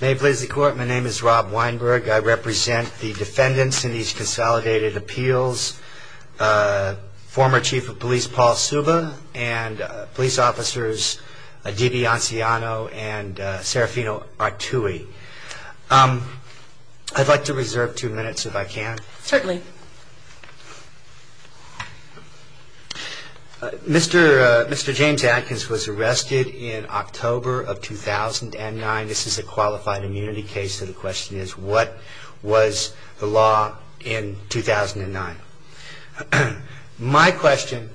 May it please the court, my name is Rob Weinberg. I represent the defendants in these consolidated appeals, former chief of police Paul Suba, and police officers D.B. Anciano and Serafino Artui. I'd like to reserve two minutes if I can. Certainly. Mr. James Adkins was arrested in October of 2009. This is a qualified immunity case so the question is what was the law in 2009? My question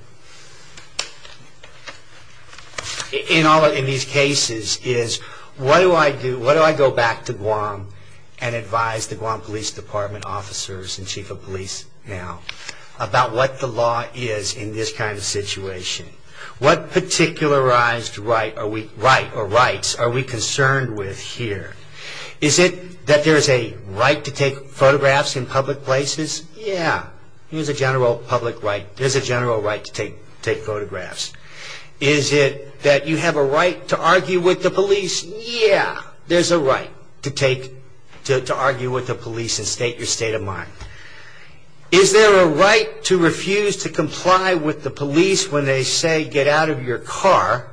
in these cases is what do I do, what do I go back to Guam and advise the Guam police department officers and chief of police now about what the law is in this kind of situation? What particularized right or rights are we concerned with here? Is it that there is a right to take photographs in public places? Yeah, there's a general right to take photographs. Is it that you have a right to argue with the police? Yeah, there's a right to argue with the police and state your state of mind. Is there a right to refuse to comply with the police when they say get out of your car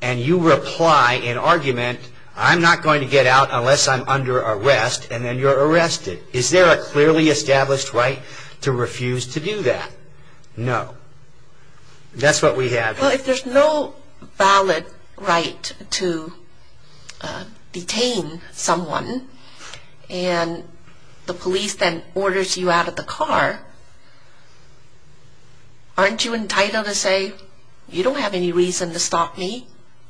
and you reply in argument I'm not going to get out unless I'm under arrest and then you're arrested? Is there a clearly established right to refuse to do that? No. That's what we have here. Well, if there's no valid right to detain someone and the police then orders you out of the car, aren't you entitled to say you don't have any reason to stop me?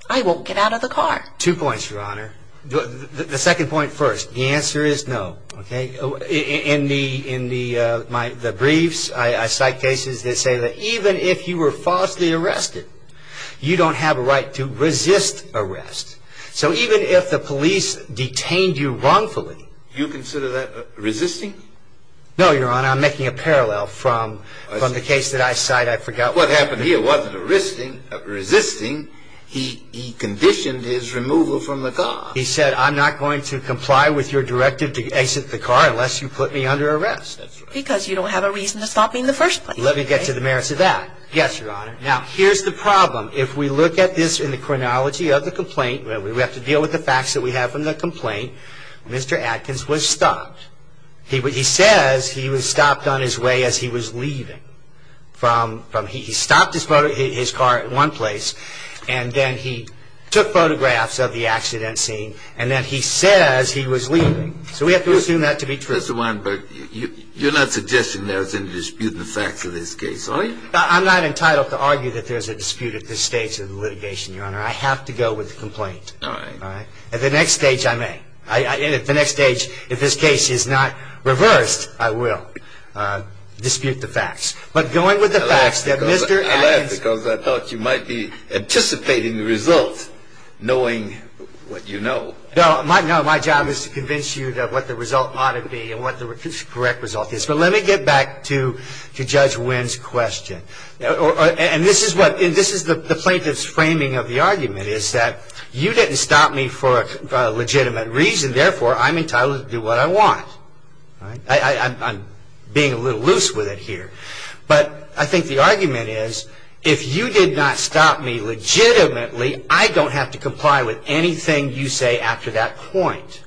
I won't get out of the car. Two points, Your Honor. The second point first. The answer is no. In the briefs I cite cases that say that even if you were falsely arrested, you don't have a right to resist arrest. So even if the police detained you wrongfully... Do you consider that resisting? No, Your Honor. I'm making a parallel from the case that I cite. I forgot what happened. When he wasn't resisting, he conditioned his removal from the car. He said I'm not going to comply with your directive to exit the car unless you put me under arrest. Because you don't have a reason to stop me in the first place. Let me get to the merits of that. Yes, Your Honor. Now, here's the problem. If we look at this in the chronology of the complaint, we have to deal with the facts that we have from the complaint. Mr. Atkins was stopped. He says he was stopped on his way as he was leaving. He stopped his car at one place, and then he took photographs of the accident scene, and then he says he was leaving. So we have to assume that to be true. Mr. Weinberg, you're not suggesting there's any dispute in the facts of this case, are you? I'm not entitled to argue that there's a dispute at this stage of the litigation, Your Honor. I have to go with the complaint. All right. At the next stage, I may. At the next stage, if this case is not reversed, I will dispute the facts. But going with the facts that Mr. Atkins I laughed because I thought you might be anticipating the result, knowing what you know. No, my job is to convince you of what the result ought to be and what the correct result is. But let me get back to Judge Wein's question. And this is the plaintiff's framing of the argument, is that you didn't stop me for a legitimate reason. Therefore, I'm entitled to do what I want. I'm being a little loose with it here. But I think the argument is, if you did not stop me legitimately, I don't have to comply with anything you say after that point.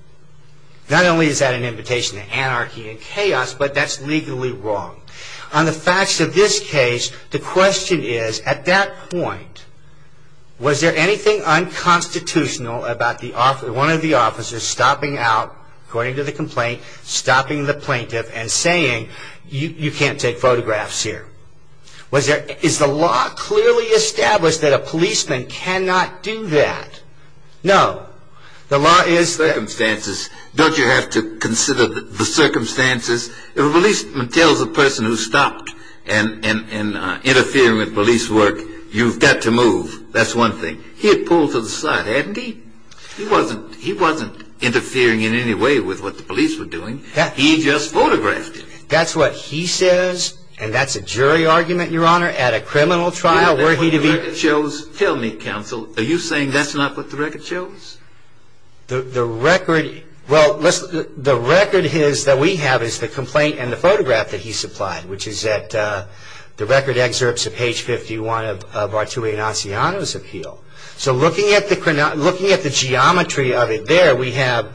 Not only is that an invitation to anarchy and chaos, but that's legally wrong. On the facts of this case, the question is, at that point, was there anything unconstitutional about one of the officers stopping out, according to the complaint, stopping the plaintiff and saying, you can't take photographs here? Is the law clearly established that a policeman cannot do that? No. Don't you have to consider the circumstances? If a policeman tells a person who stopped and interfered with police work, you've got to move. That's one thing. He had pulled to the side, hadn't he? He wasn't interfering in any way with what the police were doing. He just photographed it. That's what he says? And that's a jury argument, Your Honor, at a criminal trial? Tell me, counsel, are you saying that's not what the record shows? The record that we have is the complaint and the photograph that he supplied, which is at the record excerpts of page 51 of Arturo Iannaciano's appeal. So looking at the geometry of it there, we have,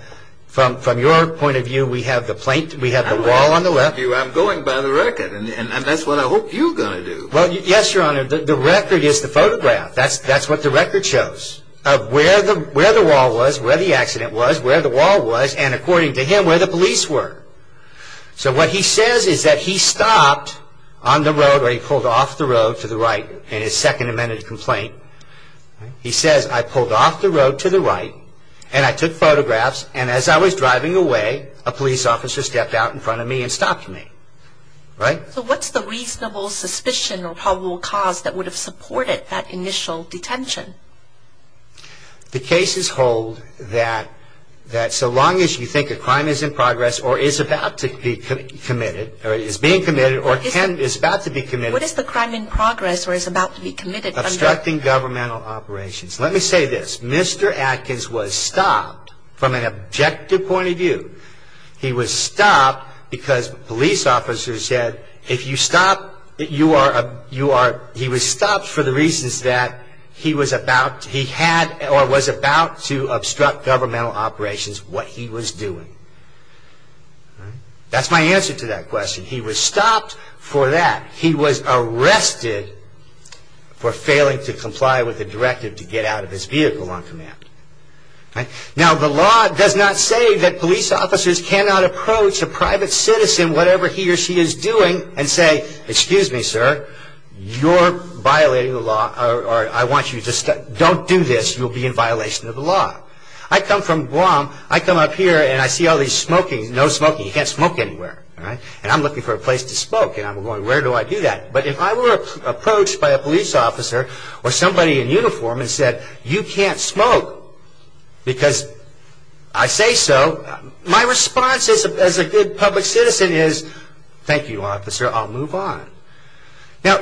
from your point of view, we have the plaintiff, we have the wall on the left. I'm going by the record, and that's what I hope you're going to do. Well, yes, Your Honor, the record is the photograph. That's what the record shows, of where the wall was, where the accident was, where the wall was, and according to him, where the police were. So what he says is that he stopped on the road, or he pulled off the road to the right in his Second Amendment complaint. He says, I pulled off the road to the right, and I took photographs, and as I was driving away, a police officer stepped out in front of me and stopped me. Right? So what's the reasonable suspicion or probable cause that would have supported that initial detention? The cases hold that so long as you think a crime is in progress or is about to be committed, or is being committed, or is about to be committed. What is the crime in progress or is about to be committed? Obstructing governmental operations. Let me say this. Mr. Atkins was stopped from an objective point of view. He was stopped because police officers said, he was stopped for the reasons that he was about to obstruct governmental operations, what he was doing. That's my answer to that question. He was stopped for that. He was arrested for failing to comply with the directive to get out of his vehicle on command. Now, the law does not say that police officers cannot approach a private citizen, whatever he or she is doing, and say, excuse me, sir, you're violating the law, or I want you to stop, don't do this, you'll be in violation of the law. I come from Guam, I come up here and I see all these smoking, no smoking, you can't smoke anywhere. And I'm looking for a place to smoke and I'm going, where do I do that? But if I were approached by a police officer or somebody in uniform and said, you can't smoke because I say so, my response as a good public citizen is, thank you, officer, I'll move on. Now,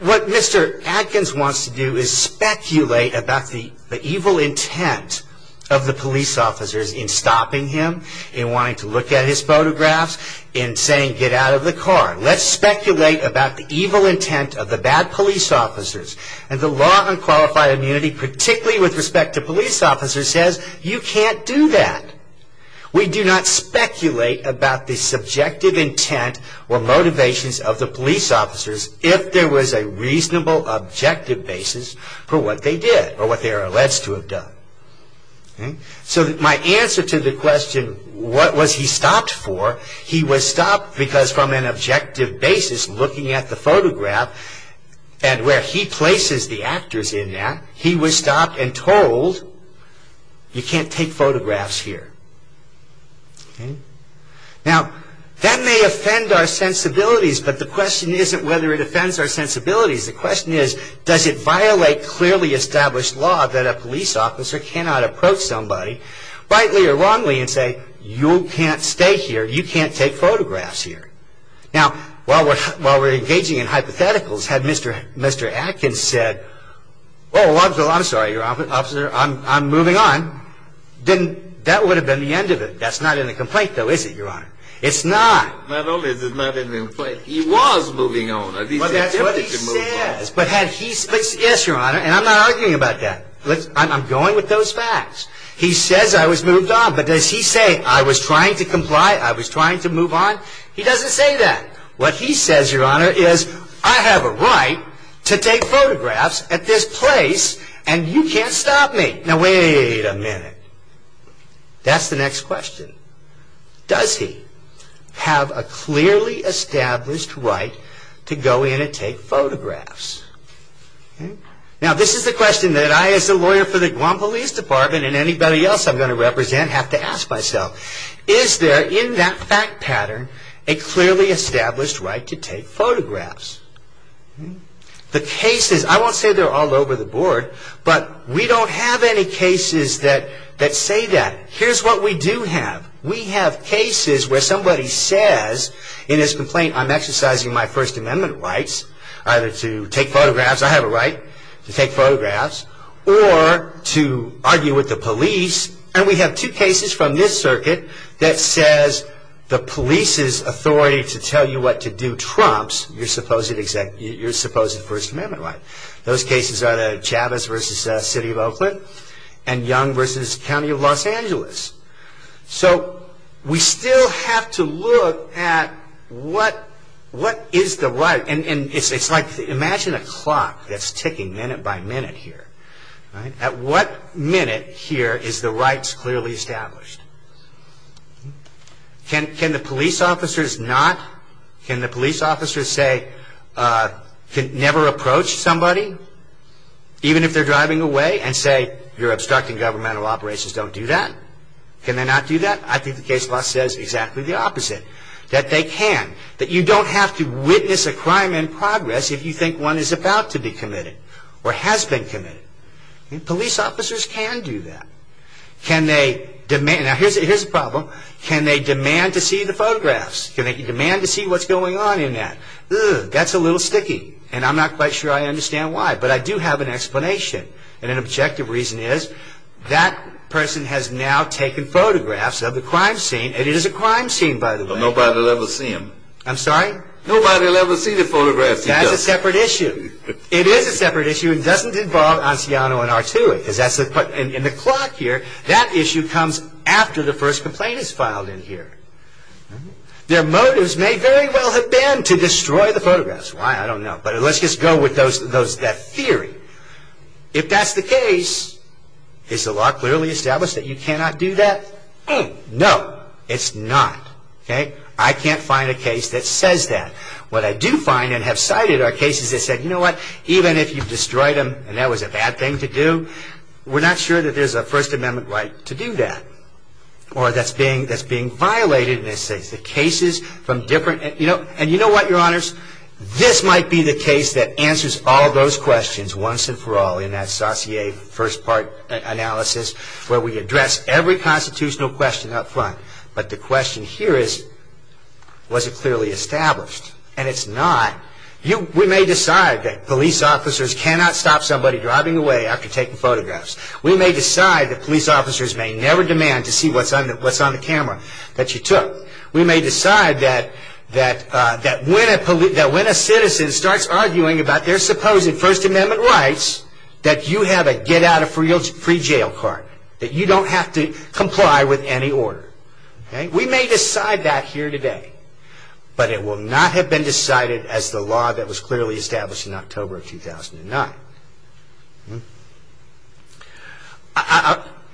what Mr. Atkins wants to do is speculate about the evil intent of the police officers in stopping him, in wanting to look at his photographs, in saying, get out of the car. Let's speculate about the evil intent of the bad police officers. And the law on qualified immunity, particularly with respect to police officers, says you can't do that. We do not speculate about the subjective intent or motivations of the police officers if there was a reasonable objective basis for what they did or what they are alleged to have done. So my answer to the question, what was he stopped for? He was stopped because from an objective basis, looking at the photograph and where he places the actors in that, he was stopped and told, you can't take photographs here. Now, that may offend our sensibilities, but the question isn't whether it offends our sensibilities. The question is, does it violate clearly established law that a police officer cannot approach somebody, rightly or wrongly, and say, you can't stay here, you can't take photographs here. Now, while we're engaging in hypotheticals, had Mr. Atkins said, oh, I'm sorry, officer, I'm moving on, then that would have been the end of it. That's not in the complaint, though, is it, Your Honor? It's not. Not only is it not in the complaint, he was moving on. Well, that's what he says, but had he said, yes, Your Honor, and I'm not arguing about that. I'm going with those facts. He says I was moved on, but does he say I was trying to comply, I was trying to move on? He doesn't say that. What he says, Your Honor, is I have a right to take photographs at this place and you can't stop me. Now, wait a minute. That's the next question. Does he have a clearly established right to go in and take photographs? Now, this is the question that I, as a lawyer for the Guam Police Department, and anybody else I'm going to represent have to ask myself. Is there, in that fact pattern, a clearly established right to take photographs? The cases, I won't say they're all over the board, but we don't have any cases that say that. Here's what we do have. We have cases where somebody says in his complaint, I'm exercising my First Amendment rights, either to take photographs, I have a right to take photographs, or to argue with the police, and we have two cases from this circuit that says the police's authority to tell you what to do trumps your supposed First Amendment right. Those cases are the Chavez v. City of Oakland and Young v. County of Los Angeles. So we still have to look at what is the right, and it's like, imagine a clock that's ticking minute by minute here. At what minute here is the rights clearly established? Can the police officers not, can the police officers say, never approach somebody, even if they're driving away, and say, you're obstructing governmental operations, don't do that? Can they not do that? I think the case law says exactly the opposite, that they can. That you don't have to witness a crime in progress if you think one is about to be committed, or has been committed. Police officers can do that. Can they, now here's the problem, can they demand to see the photographs? Can they demand to see what's going on in that? That's a little sticky, and I'm not quite sure I understand why, but I do have an explanation, and an objective reason is, that person has now taken photographs of the crime scene, and it is a crime scene, by the way. But nobody will ever see them. I'm sorry? Nobody will ever see the photographs. That's a separate issue. It is a separate issue, and doesn't involve Anciano and Arturi, because in the clock here, that issue comes after the first complaint is filed in here. Their motives may very well have been to destroy the photographs. Why? I don't know. But let's just go with that theory. If that's the case, is the law clearly established that you cannot do that? No, it's not. I can't find a case that says that. What I do find, and have cited, are cases that say, you know what, even if you've destroyed them, and that was a bad thing to do, we're not sure that there's a First Amendment right to do that, or that's being violated in this case. The cases from different, you know, and you know what, Your Honors, this might be the case that answers all those questions once and for all, in that Saussure first part analysis, where we address every constitutional question up front. But the question here is, was it clearly established? And it's not. We may decide that police officers cannot stop somebody driving away after taking photographs. We may decide that police officers may never demand to see what's on the camera that you took. We may decide that when a citizen starts arguing about their supposed First Amendment rights, that you have a get out of free jail card, that you don't have to comply with any order. We may decide that here today. But it will not have been decided as the law that was clearly established in October of 2009.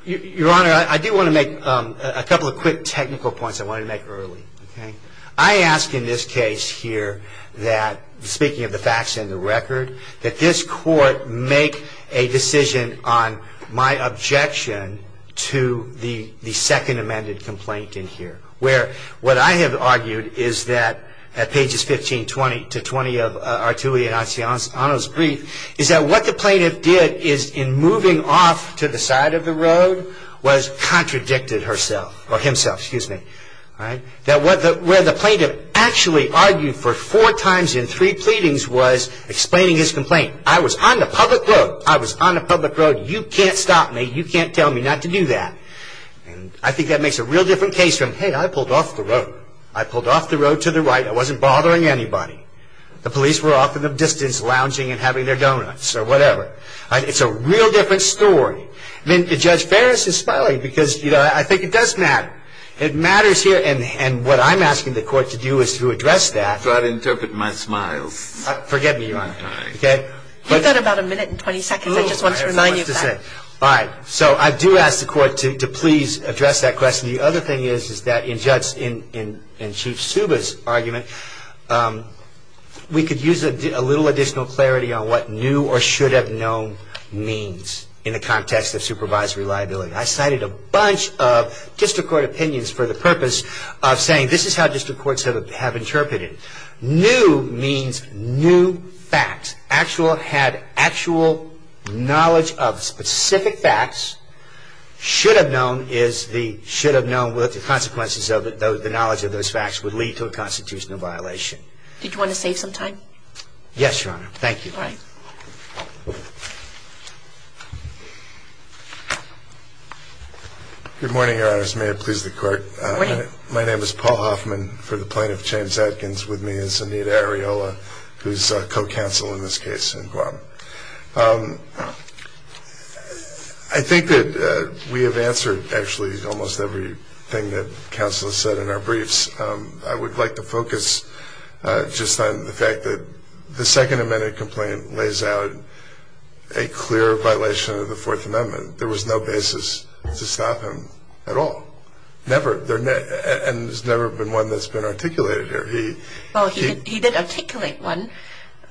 Your Honor, I do want to make a couple of quick technical points I wanted to make early. I ask in this case here that, speaking of the facts and the record, that this court make a decision on my objection to the second amended complaint in here, where what I have argued is that at pages 15, 20 to 20 of Artulli and Acciano's brief, is that what the plaintiff did is, in moving off to the side of the road, was contradicted himself. Where the plaintiff actually argued for four times in three pleadings was explaining his complaint. I was on the public road. I was on the public road. You can't stop me. You can't tell me not to do that. I think that makes a real different case from, hey, I pulled off the road. I pulled off the road to the right. I wasn't bothering anybody. The police were off in the distance lounging and having their donuts or whatever. It's a real different story. I mean, Judge Ferris is smiling because, you know, I think it does matter. It matters here. And what I'm asking the court to do is to address that. I'm trying to interpret my smile. Forget me, Your Honor. You've got about a minute and 20 seconds. I just want to remind you of that. All right. So I do ask the court to please address that question. The other thing is that in Chief Suba's argument, we could use a little additional clarity on what new or should have known means in the context of supervisory liability. I cited a bunch of district court opinions for the purpose of saying this is how district courts have interpreted it. New means new facts. Actual had actual knowledge of specific facts. Should have known is the should have known what the consequences of the knowledge of those facts would lead to a constitutional violation. Did you want to save some time? Yes, Your Honor. Thank you. All right. Good morning, Your Honors. May it please the court. Good morning. My name is Paul Hoffman. And for the plaintiff, James Adkins, with me is Anita Areola, who's co-counsel in this case in Guam. I think that we have answered actually almost everything that counsel has said in our briefs. I would like to focus just on the fact that the Second Amendment complaint lays out a clear violation of the Fourth Amendment. There was no basis to stop him at all. And there's never been one that's been articulated. Well, he did articulate one.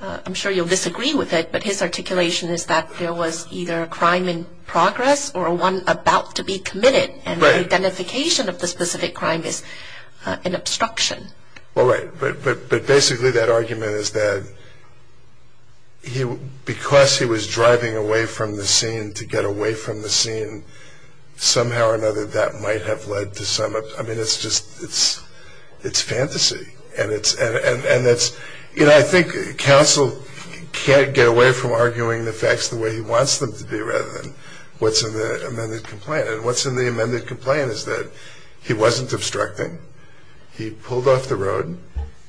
I'm sure you'll disagree with it, but his articulation is that there was either a crime in progress or one about to be committed, and the identification of the specific crime is an obstruction. Well, right. But basically that argument is that because he was driving away from the scene to get away from the scene, somehow or another that might have led to some of it. I mean, it's just fantasy. And I think counsel can't get away from arguing the facts the way he wants them to be rather than what's in the amended complaint. And what's in the amended complaint is that he wasn't obstructing. He pulled off the road.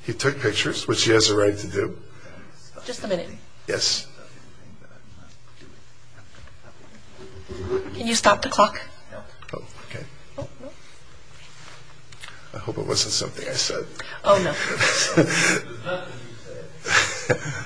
He took pictures, which he has a right to do. Just a minute. Yes. Can you stop the clock? Okay. I hope it wasn't something I said. Oh, no. It was nothing you said.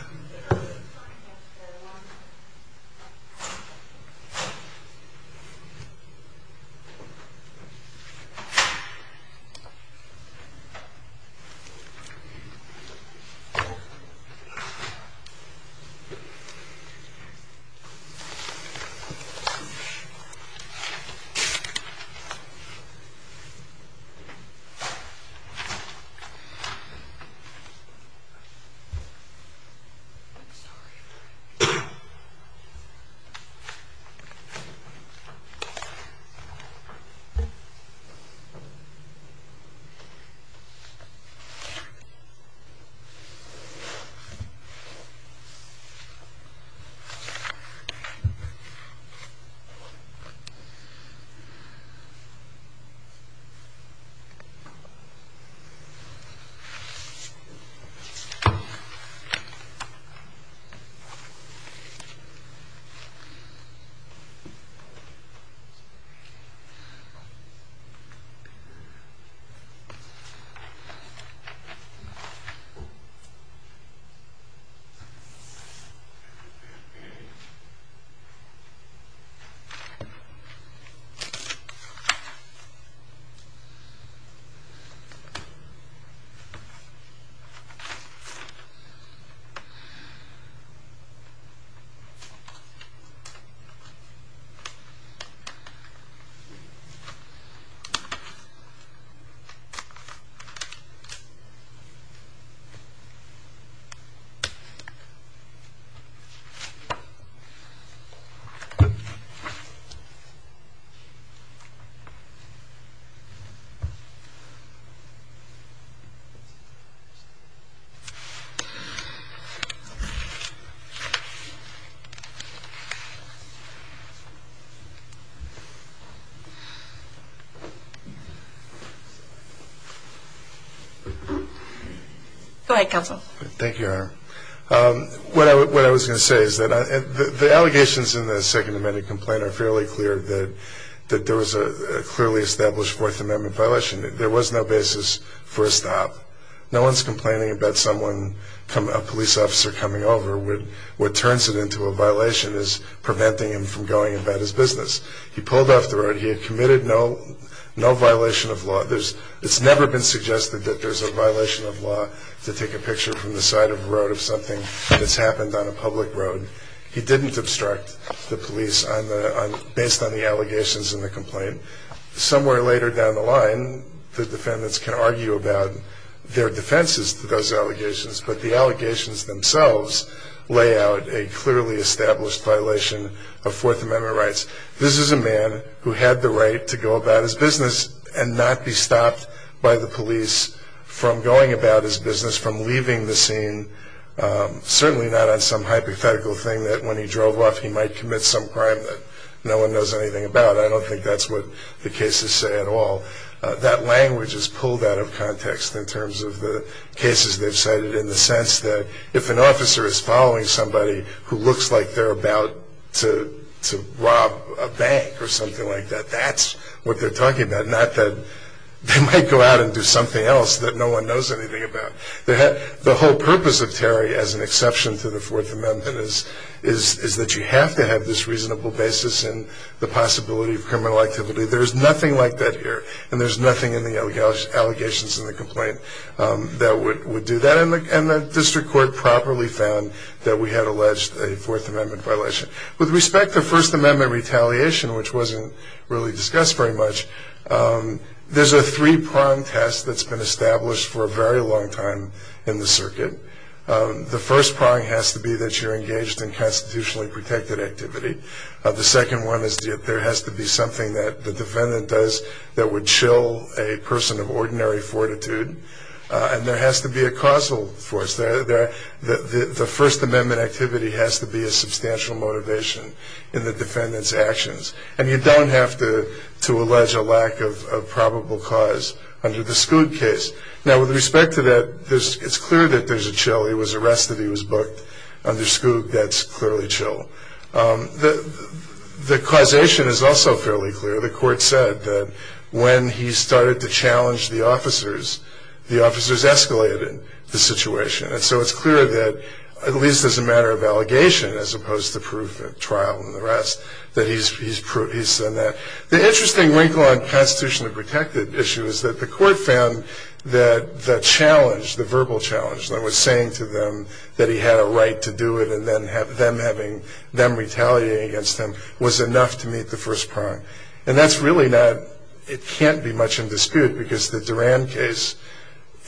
I'm sorry. Okay. Okay. Go ahead, counsel. Thank you, Your Honor. What I was going to say is that the allegations in the second amended complaint are fairly clear that there was a clearly established Fourth Amendment violation. There was no basis for a stop. No one said, well, we're going to stop. Someone's complaining about someone, a police officer coming over. What turns it into a violation is preventing him from going about his business. He pulled off the road. He had committed no violation of law. It's never been suggested that there's a violation of law to take a picture from the side of the road of something that's happened on a public road. He didn't obstruct the police based on the allegations in the complaint. Somewhere later down the line, the defendants can argue about their defenses to those allegations, but the allegations themselves lay out a clearly established violation of Fourth Amendment rights. This is a man who had the right to go about his business and not be stopped by the police from going about his business, from leaving the scene, certainly not on some hypothetical thing that when he drove off he might commit some crime that no one knows anything about. I don't think that's what the cases say at all. That language is pulled out of context in terms of the cases they've cited in the sense that if an officer is following somebody who looks like they're about to rob a bank or something like that, that's what they're talking about, not that they might go out and do something else that no one knows anything about. The whole purpose of Terry, as an exception to the Fourth Amendment, is that you have to have this reasonable basis in the possibility of criminal activity. There's nothing like that here, and there's nothing in the allegations in the complaint that would do that, and the district court properly found that we had alleged a Fourth Amendment violation. With respect to First Amendment retaliation, which wasn't really discussed very much, there's a three-prong test that's been established for a very long time in the circuit. The first prong has to be that you're engaged in constitutionally protected activity. The second one is that there has to be something that the defendant does that would chill a person of ordinary fortitude, and there has to be a causal force. The First Amendment activity has to be a substantial motivation in the defendant's actions, and you don't have to allege a lack of probable cause under the Schood case. Now, with respect to that, it's clear that there's a chill. He was arrested. He was booked under Schood. That's clearly chill. The causation is also fairly clear. The court said that when he started to challenge the officers, the officers escalated the situation, and so it's clear that at least as a matter of allegation, as opposed to proof at trial and the rest, that he's said that. The interesting wrinkle on constitutionally protected issue is that the court found that the challenge, the verbal challenge that was saying to them that he had a right to do it and then them retaliating against him was enough to meet the first prong. And that's really not ñ it can't be much in dispute because the Duran case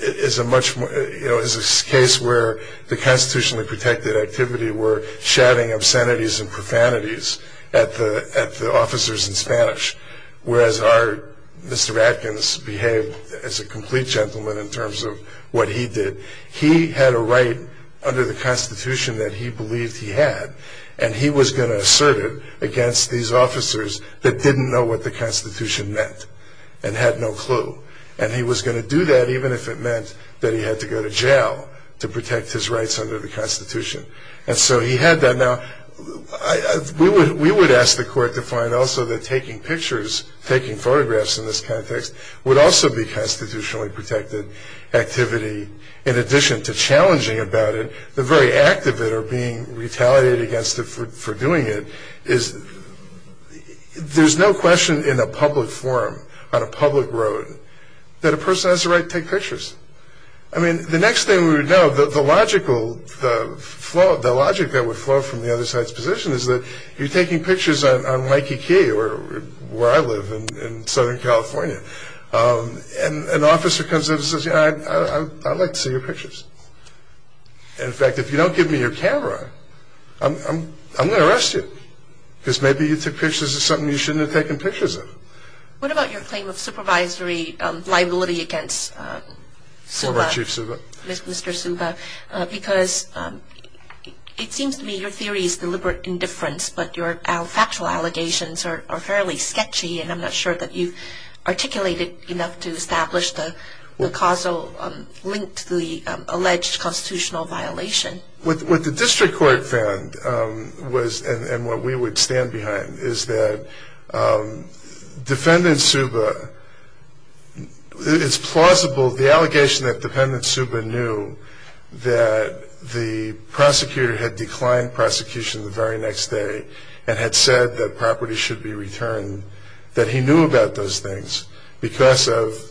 is a case where the constitutionally protected activity were shouting obscenities and profanities at the officers in Spanish, whereas our Mr. Adkins behaved as a complete gentleman in terms of what he did. He had a right under the constitution that he believed he had, and he was going to assert it against these officers that didn't know what the constitution meant and had no clue. And he was going to do that even if it meant that he had to go to jail to protect his rights under the constitution. And so he had that. Now, we would ask the court to find also that taking pictures, taking photographs in this context, would also be constitutionally protected activity. In addition to challenging about it, the very act of it or being retaliated against for doing it, there's no question in a public forum on a public road that a person has the right to take pictures. I mean, the next thing we would know, the logic that would flow from the other side's position is that you're taking pictures on Mikey Key, where I live in Southern California, and an officer comes in and says, you know, I'd like to see your pictures. In fact, if you don't give me your camera, I'm going to arrest you because maybe you took pictures of something you shouldn't have taken pictures of. What about your claim of supervisory liability against Subha? Former Chief Subha. Mr. Subha, because it seems to me your theory is deliberate indifference, but your factual allegations are fairly sketchy, and I'm not sure that you've articulated enough to establish the causal link to the alleged constitutional violation. What the district court found was, and what we would stand behind, is that Defendant Subha is plausible. The allegation that Defendant Subha knew that the prosecutor had declined prosecution the very next day and had said that property should be returned, that he knew about those things because of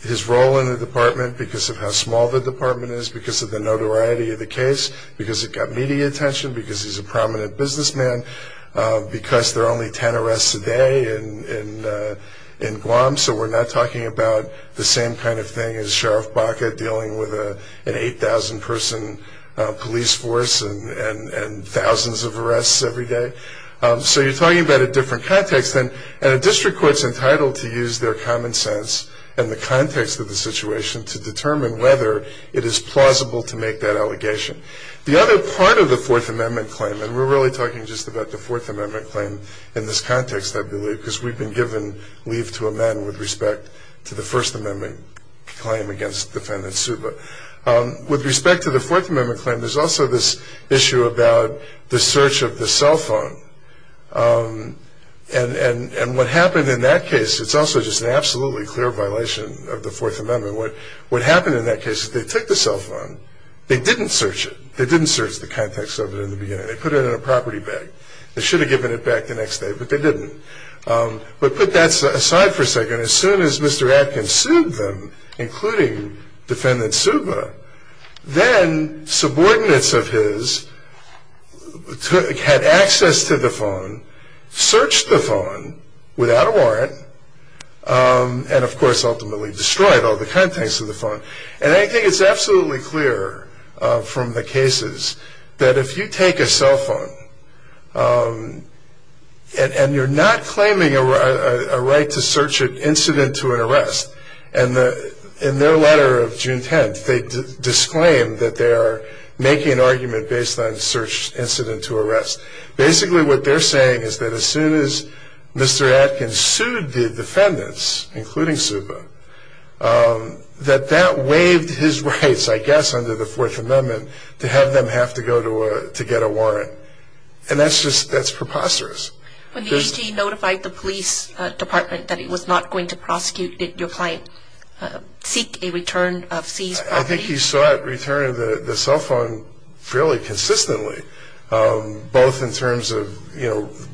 his role in the department, because of how small the department is, because of the notoriety of the case, because it got media attention, because he's a prominent businessman, because there are only 10 arrests a day in Guam, so we're not talking about the same kind of thing as Sheriff Baca dealing with an 8,000-person police force and thousands of arrests every day. So you're talking about a different context, and a district court's entitled to use their common sense and the context of the situation to determine whether it is plausible to make that allegation. The other part of the Fourth Amendment claim, and we're really talking just about the Fourth Amendment claim in this context, I believe, because we've been given leave to amend with respect to the First Amendment claim against Defendant Subha. With respect to the Fourth Amendment claim, there's also this issue about the search of the cell phone, and what happened in that case, it's also just an absolutely clear violation of the Fourth Amendment. What happened in that case is they took the cell phone. They didn't search it. They didn't search the context of it in the beginning. They put it in a property bag. They should have given it back the next day, but they didn't. But put that aside for a second. As soon as Mr. Atkins sued them, including Defendant Subha, then subordinates of his had access to the phone, searched the phone without a warrant, and, of course, ultimately destroyed all the context of the phone. And I think it's absolutely clear from the cases that if you take a cell phone and you're not claiming a right to search it incident to an arrest, and in their letter of June 10th they disclaimed that they are making an argument based on search incident to arrest. Basically, what they're saying is that as soon as Mr. Atkins sued the defendants, including Subha, that that waived his rights, I guess, under the Fourth Amendment to have them have to go to get a warrant. And that's just preposterous. When the AG notified the police department that he was not going to prosecute, did your client seek a return of seized property? I think he sought return of the cell phone fairly consistently, both in terms of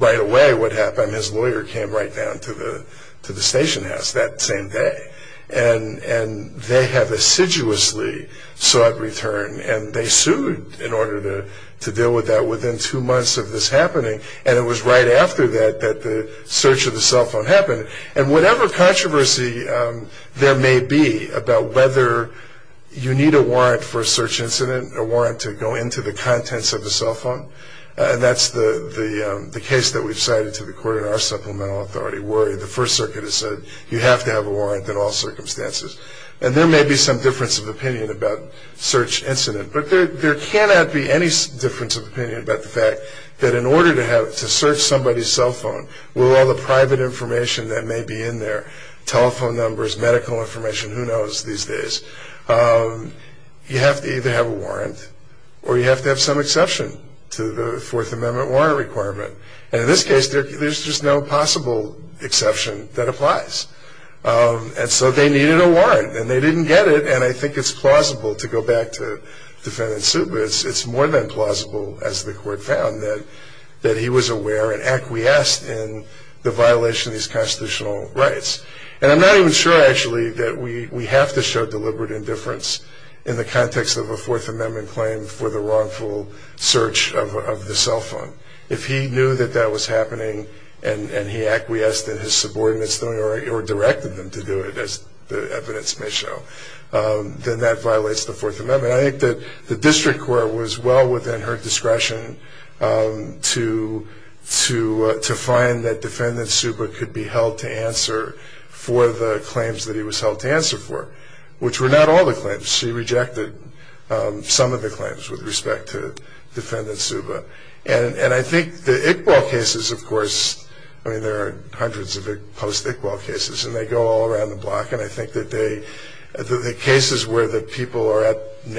right away what happened. And his lawyer came right down to the station house that same day. And they have assiduously sought return, and they sued in order to deal with that within two months of this happening. And it was right after that that the search of the cell phone happened. And whatever controversy there may be about whether you need a warrant for a search incident, a warrant to go into the contents of the cell phone, and that's the case that we've cited to the court in our supplemental authority, where the First Circuit has said you have to have a warrant in all circumstances. And there may be some difference of opinion about search incident, but there cannot be any difference of opinion about the fact that in order to search somebody's cell phone with all the private information that may be in there, telephone numbers, medical information, who knows these days, you have to either have a warrant or you have to have some exception to the Fourth Amendment warrant requirement. And in this case, there's just no possible exception that applies. And so they needed a warrant, and they didn't get it. And I think it's plausible to go back to defendant's suit, but it's more than plausible, as the court found, that he was aware and acquiesced in the violation of these constitutional rights. And I'm not even sure, actually, that we have to show deliberate indifference in the context of a Fourth Amendment claim for the wrongful search of the cell phone. If he knew that that was happening and he acquiesced in his subordinates' doing it or directed them to do it, as the evidence may show, then that violates the Fourth Amendment. I think that the district court was well within her discretion to find that defendant Suba could be held to answer for the claims that he was held to answer for, which were not all the claims. She rejected some of the claims with respect to defendant Suba. And I think the Iqbal cases, of course, I mean, there are hundreds of post-Iqbal cases, and they go all around the block. And I think that the cases where the people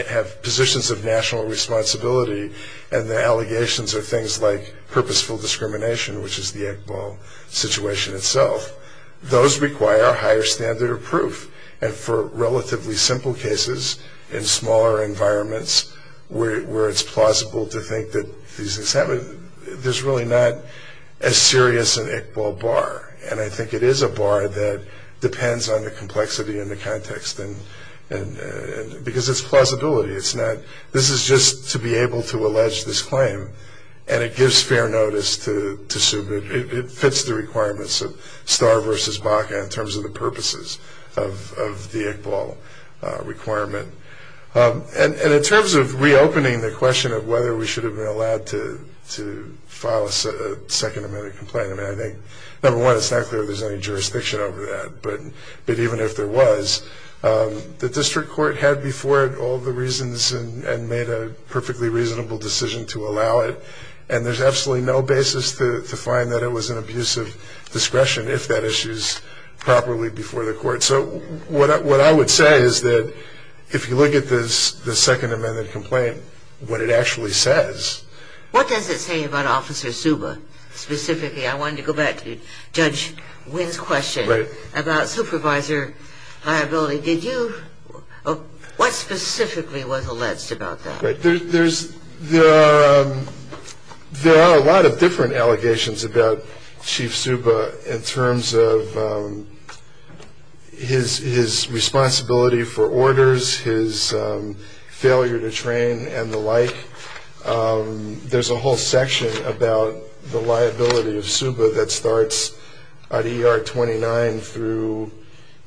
have positions of national responsibility and the allegations are things like purposeful discrimination, which is the Iqbal situation itself, those require a higher standard of proof. And for relatively simple cases in smaller environments where it's plausible to think that these things happened, there's really not as serious an Iqbal bar. And I think it is a bar that depends on the complexity and the context, because it's plausibility. This is just to be able to allege this claim, and it gives fair notice to Suba. It fits the requirements of Starr v. Baca in terms of the purposes of the Iqbal requirement. And in terms of reopening the question of whether we should have been allowed to file a Second Amendment complaint, I think, number one, it's not clear if there's any jurisdiction over that. But even if there was, the district court had before it all the reasons and made a perfectly reasonable decision to allow it. And there's absolutely no basis to find that it was an abuse of discretion if that issue is properly before the court. So what I would say is that if you look at the Second Amendment complaint, what it actually says. What does it say about Officer Suba, specifically? I wanted to go back to Judge Wynn's question about supervisor liability. What specifically was alleged about that? There are a lot of different allegations about Chief Suba in terms of his responsibility for orders, his failure to train and the like. There's a whole section about the liability of Suba that starts at ER 29 through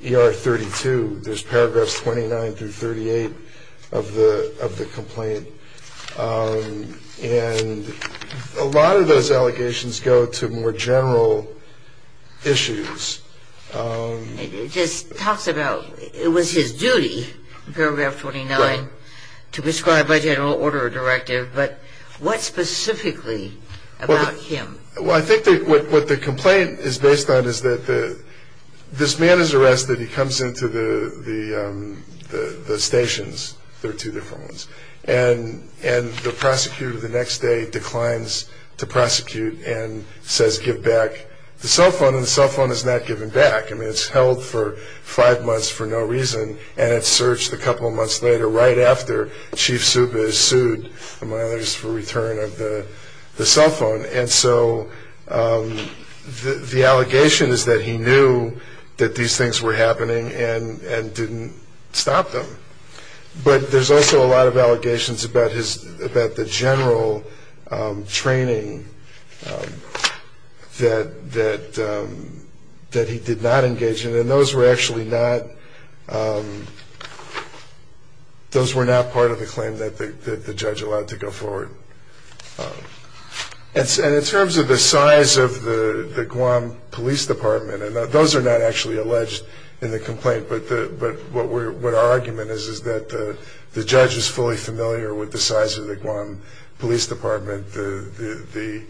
ER 32. There's paragraphs 29 through 38 of the complaint. And a lot of those allegations go to more general issues. It just talks about it was his duty, paragraph 29, to prescribe by general order a directive. But what specifically about him? Well, I think what the complaint is based on is that this man is arrested. He comes into the stations. There are two different ones. And the prosecutor the next day declines to prosecute and says give back the cell phone. And the cell phone is not given back. I mean, it's held for five months for no reason, and it's searched a couple of months later right after Chief Suba is sued, among others, for return of the cell phone. And so the allegation is that he knew that these things were happening and didn't stop them. But there's also a lot of allegations about the general training that he did not engage in. And those were actually not part of the claim that the judge allowed to go forward. And in terms of the size of the Guam Police Department, and those are not actually alleged in the complaint, but what our argument is is that the judge is fully familiar with the size of the Guam Police Department, the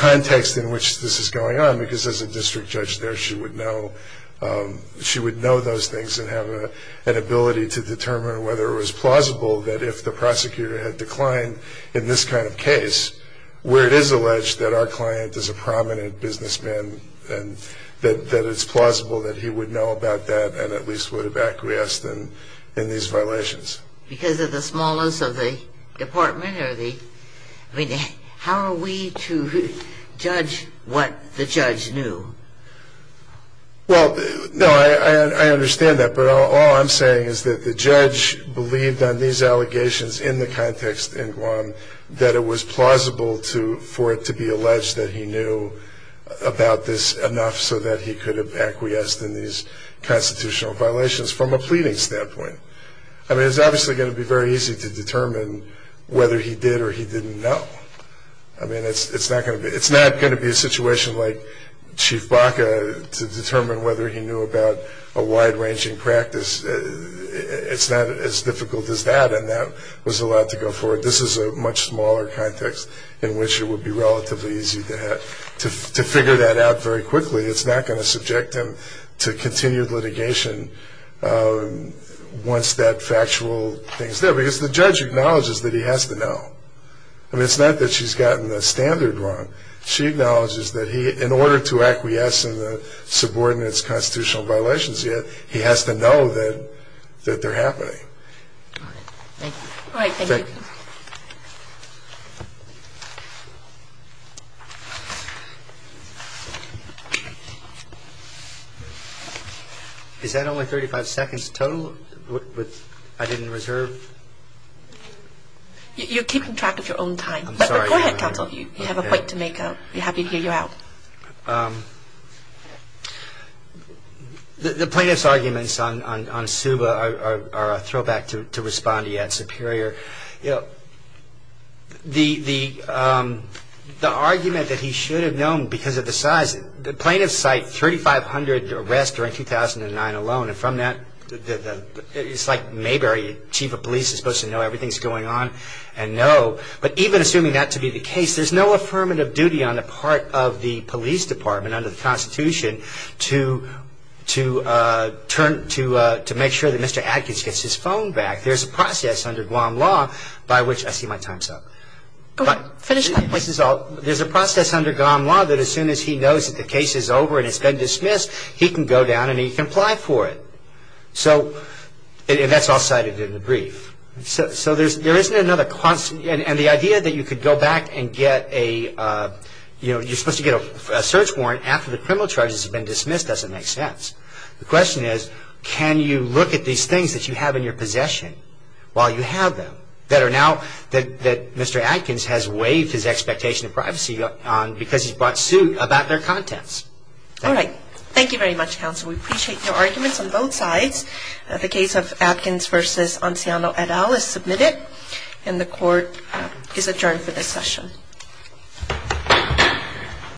context in which this is going on, because as a district judge there she would know those things and have an ability to determine whether it was plausible that if the prosecutor had declined in this kind of case, where it is alleged that our client is a prominent businessman and that it's plausible that he would know about that and at least would have acquiesced in these violations. Because of the smallness of the department? I mean, how are we to judge what the judge knew? Well, no, I understand that. But all I'm saying is that the judge believed on these allegations in the context in Guam that it was plausible for it to be alleged that he knew about this enough so that he could have acquiesced in these constitutional violations from a pleading standpoint. I mean, it's obviously going to be very easy to determine whether he did or he didn't know. I mean, it's not going to be a situation like Chief Baca to determine whether he knew about a wide-ranging practice. It's not as difficult as that, and that was allowed to go forward. This is a much smaller context in which it would be relatively easy to figure that out very quickly. It's not going to subject him to continued litigation once that factual thing is there. Because the judge acknowledges that he has to know. I mean, it's not that she's gotten the standard wrong. She acknowledges that in order to acquiesce in the subordinates' constitutional violations, he has to know that they're happening. All right. Thank you. Is that only 35 seconds total? I didn't reserve? You're keeping track of your own time. I'm sorry. Go ahead, counsel. You have a point to make. I'll be happy to hear you out. The plaintiff's arguments on Suba are a throwback to Respondee at Superior. You know, the argument that he should have known because of the size, the plaintiffs cite 3,500 arrests during 2009 alone. And from that, it's like Mayberry, chief of police, is supposed to know everything's going on and know. But even assuming that to be the case, there's no affirmative duty on the part of the police department under the Constitution to make sure that Mr. Adkins gets his phone back. There's a process under Guam law by which I see my time's up. Go ahead. Finish. There's a process under Guam law that as soon as he knows that the case is over and it's been dismissed, he can go down and he can apply for it. And that's all cited in the brief. So there isn't another constant. And the idea that you could go back and get a, you know, you're supposed to get a search warrant after the criminal charges have been dismissed doesn't make sense. The question is, can you look at these things that you have in your possession while you have them that are now, that Mr. Adkins has waived his expectation of privacy on because he's brought suit about their contents. All right. Thank you very much, counsel. We appreciate your arguments on both sides. The case of Adkins v. Anciano et al. is submitted. And the court is adjourned for this session.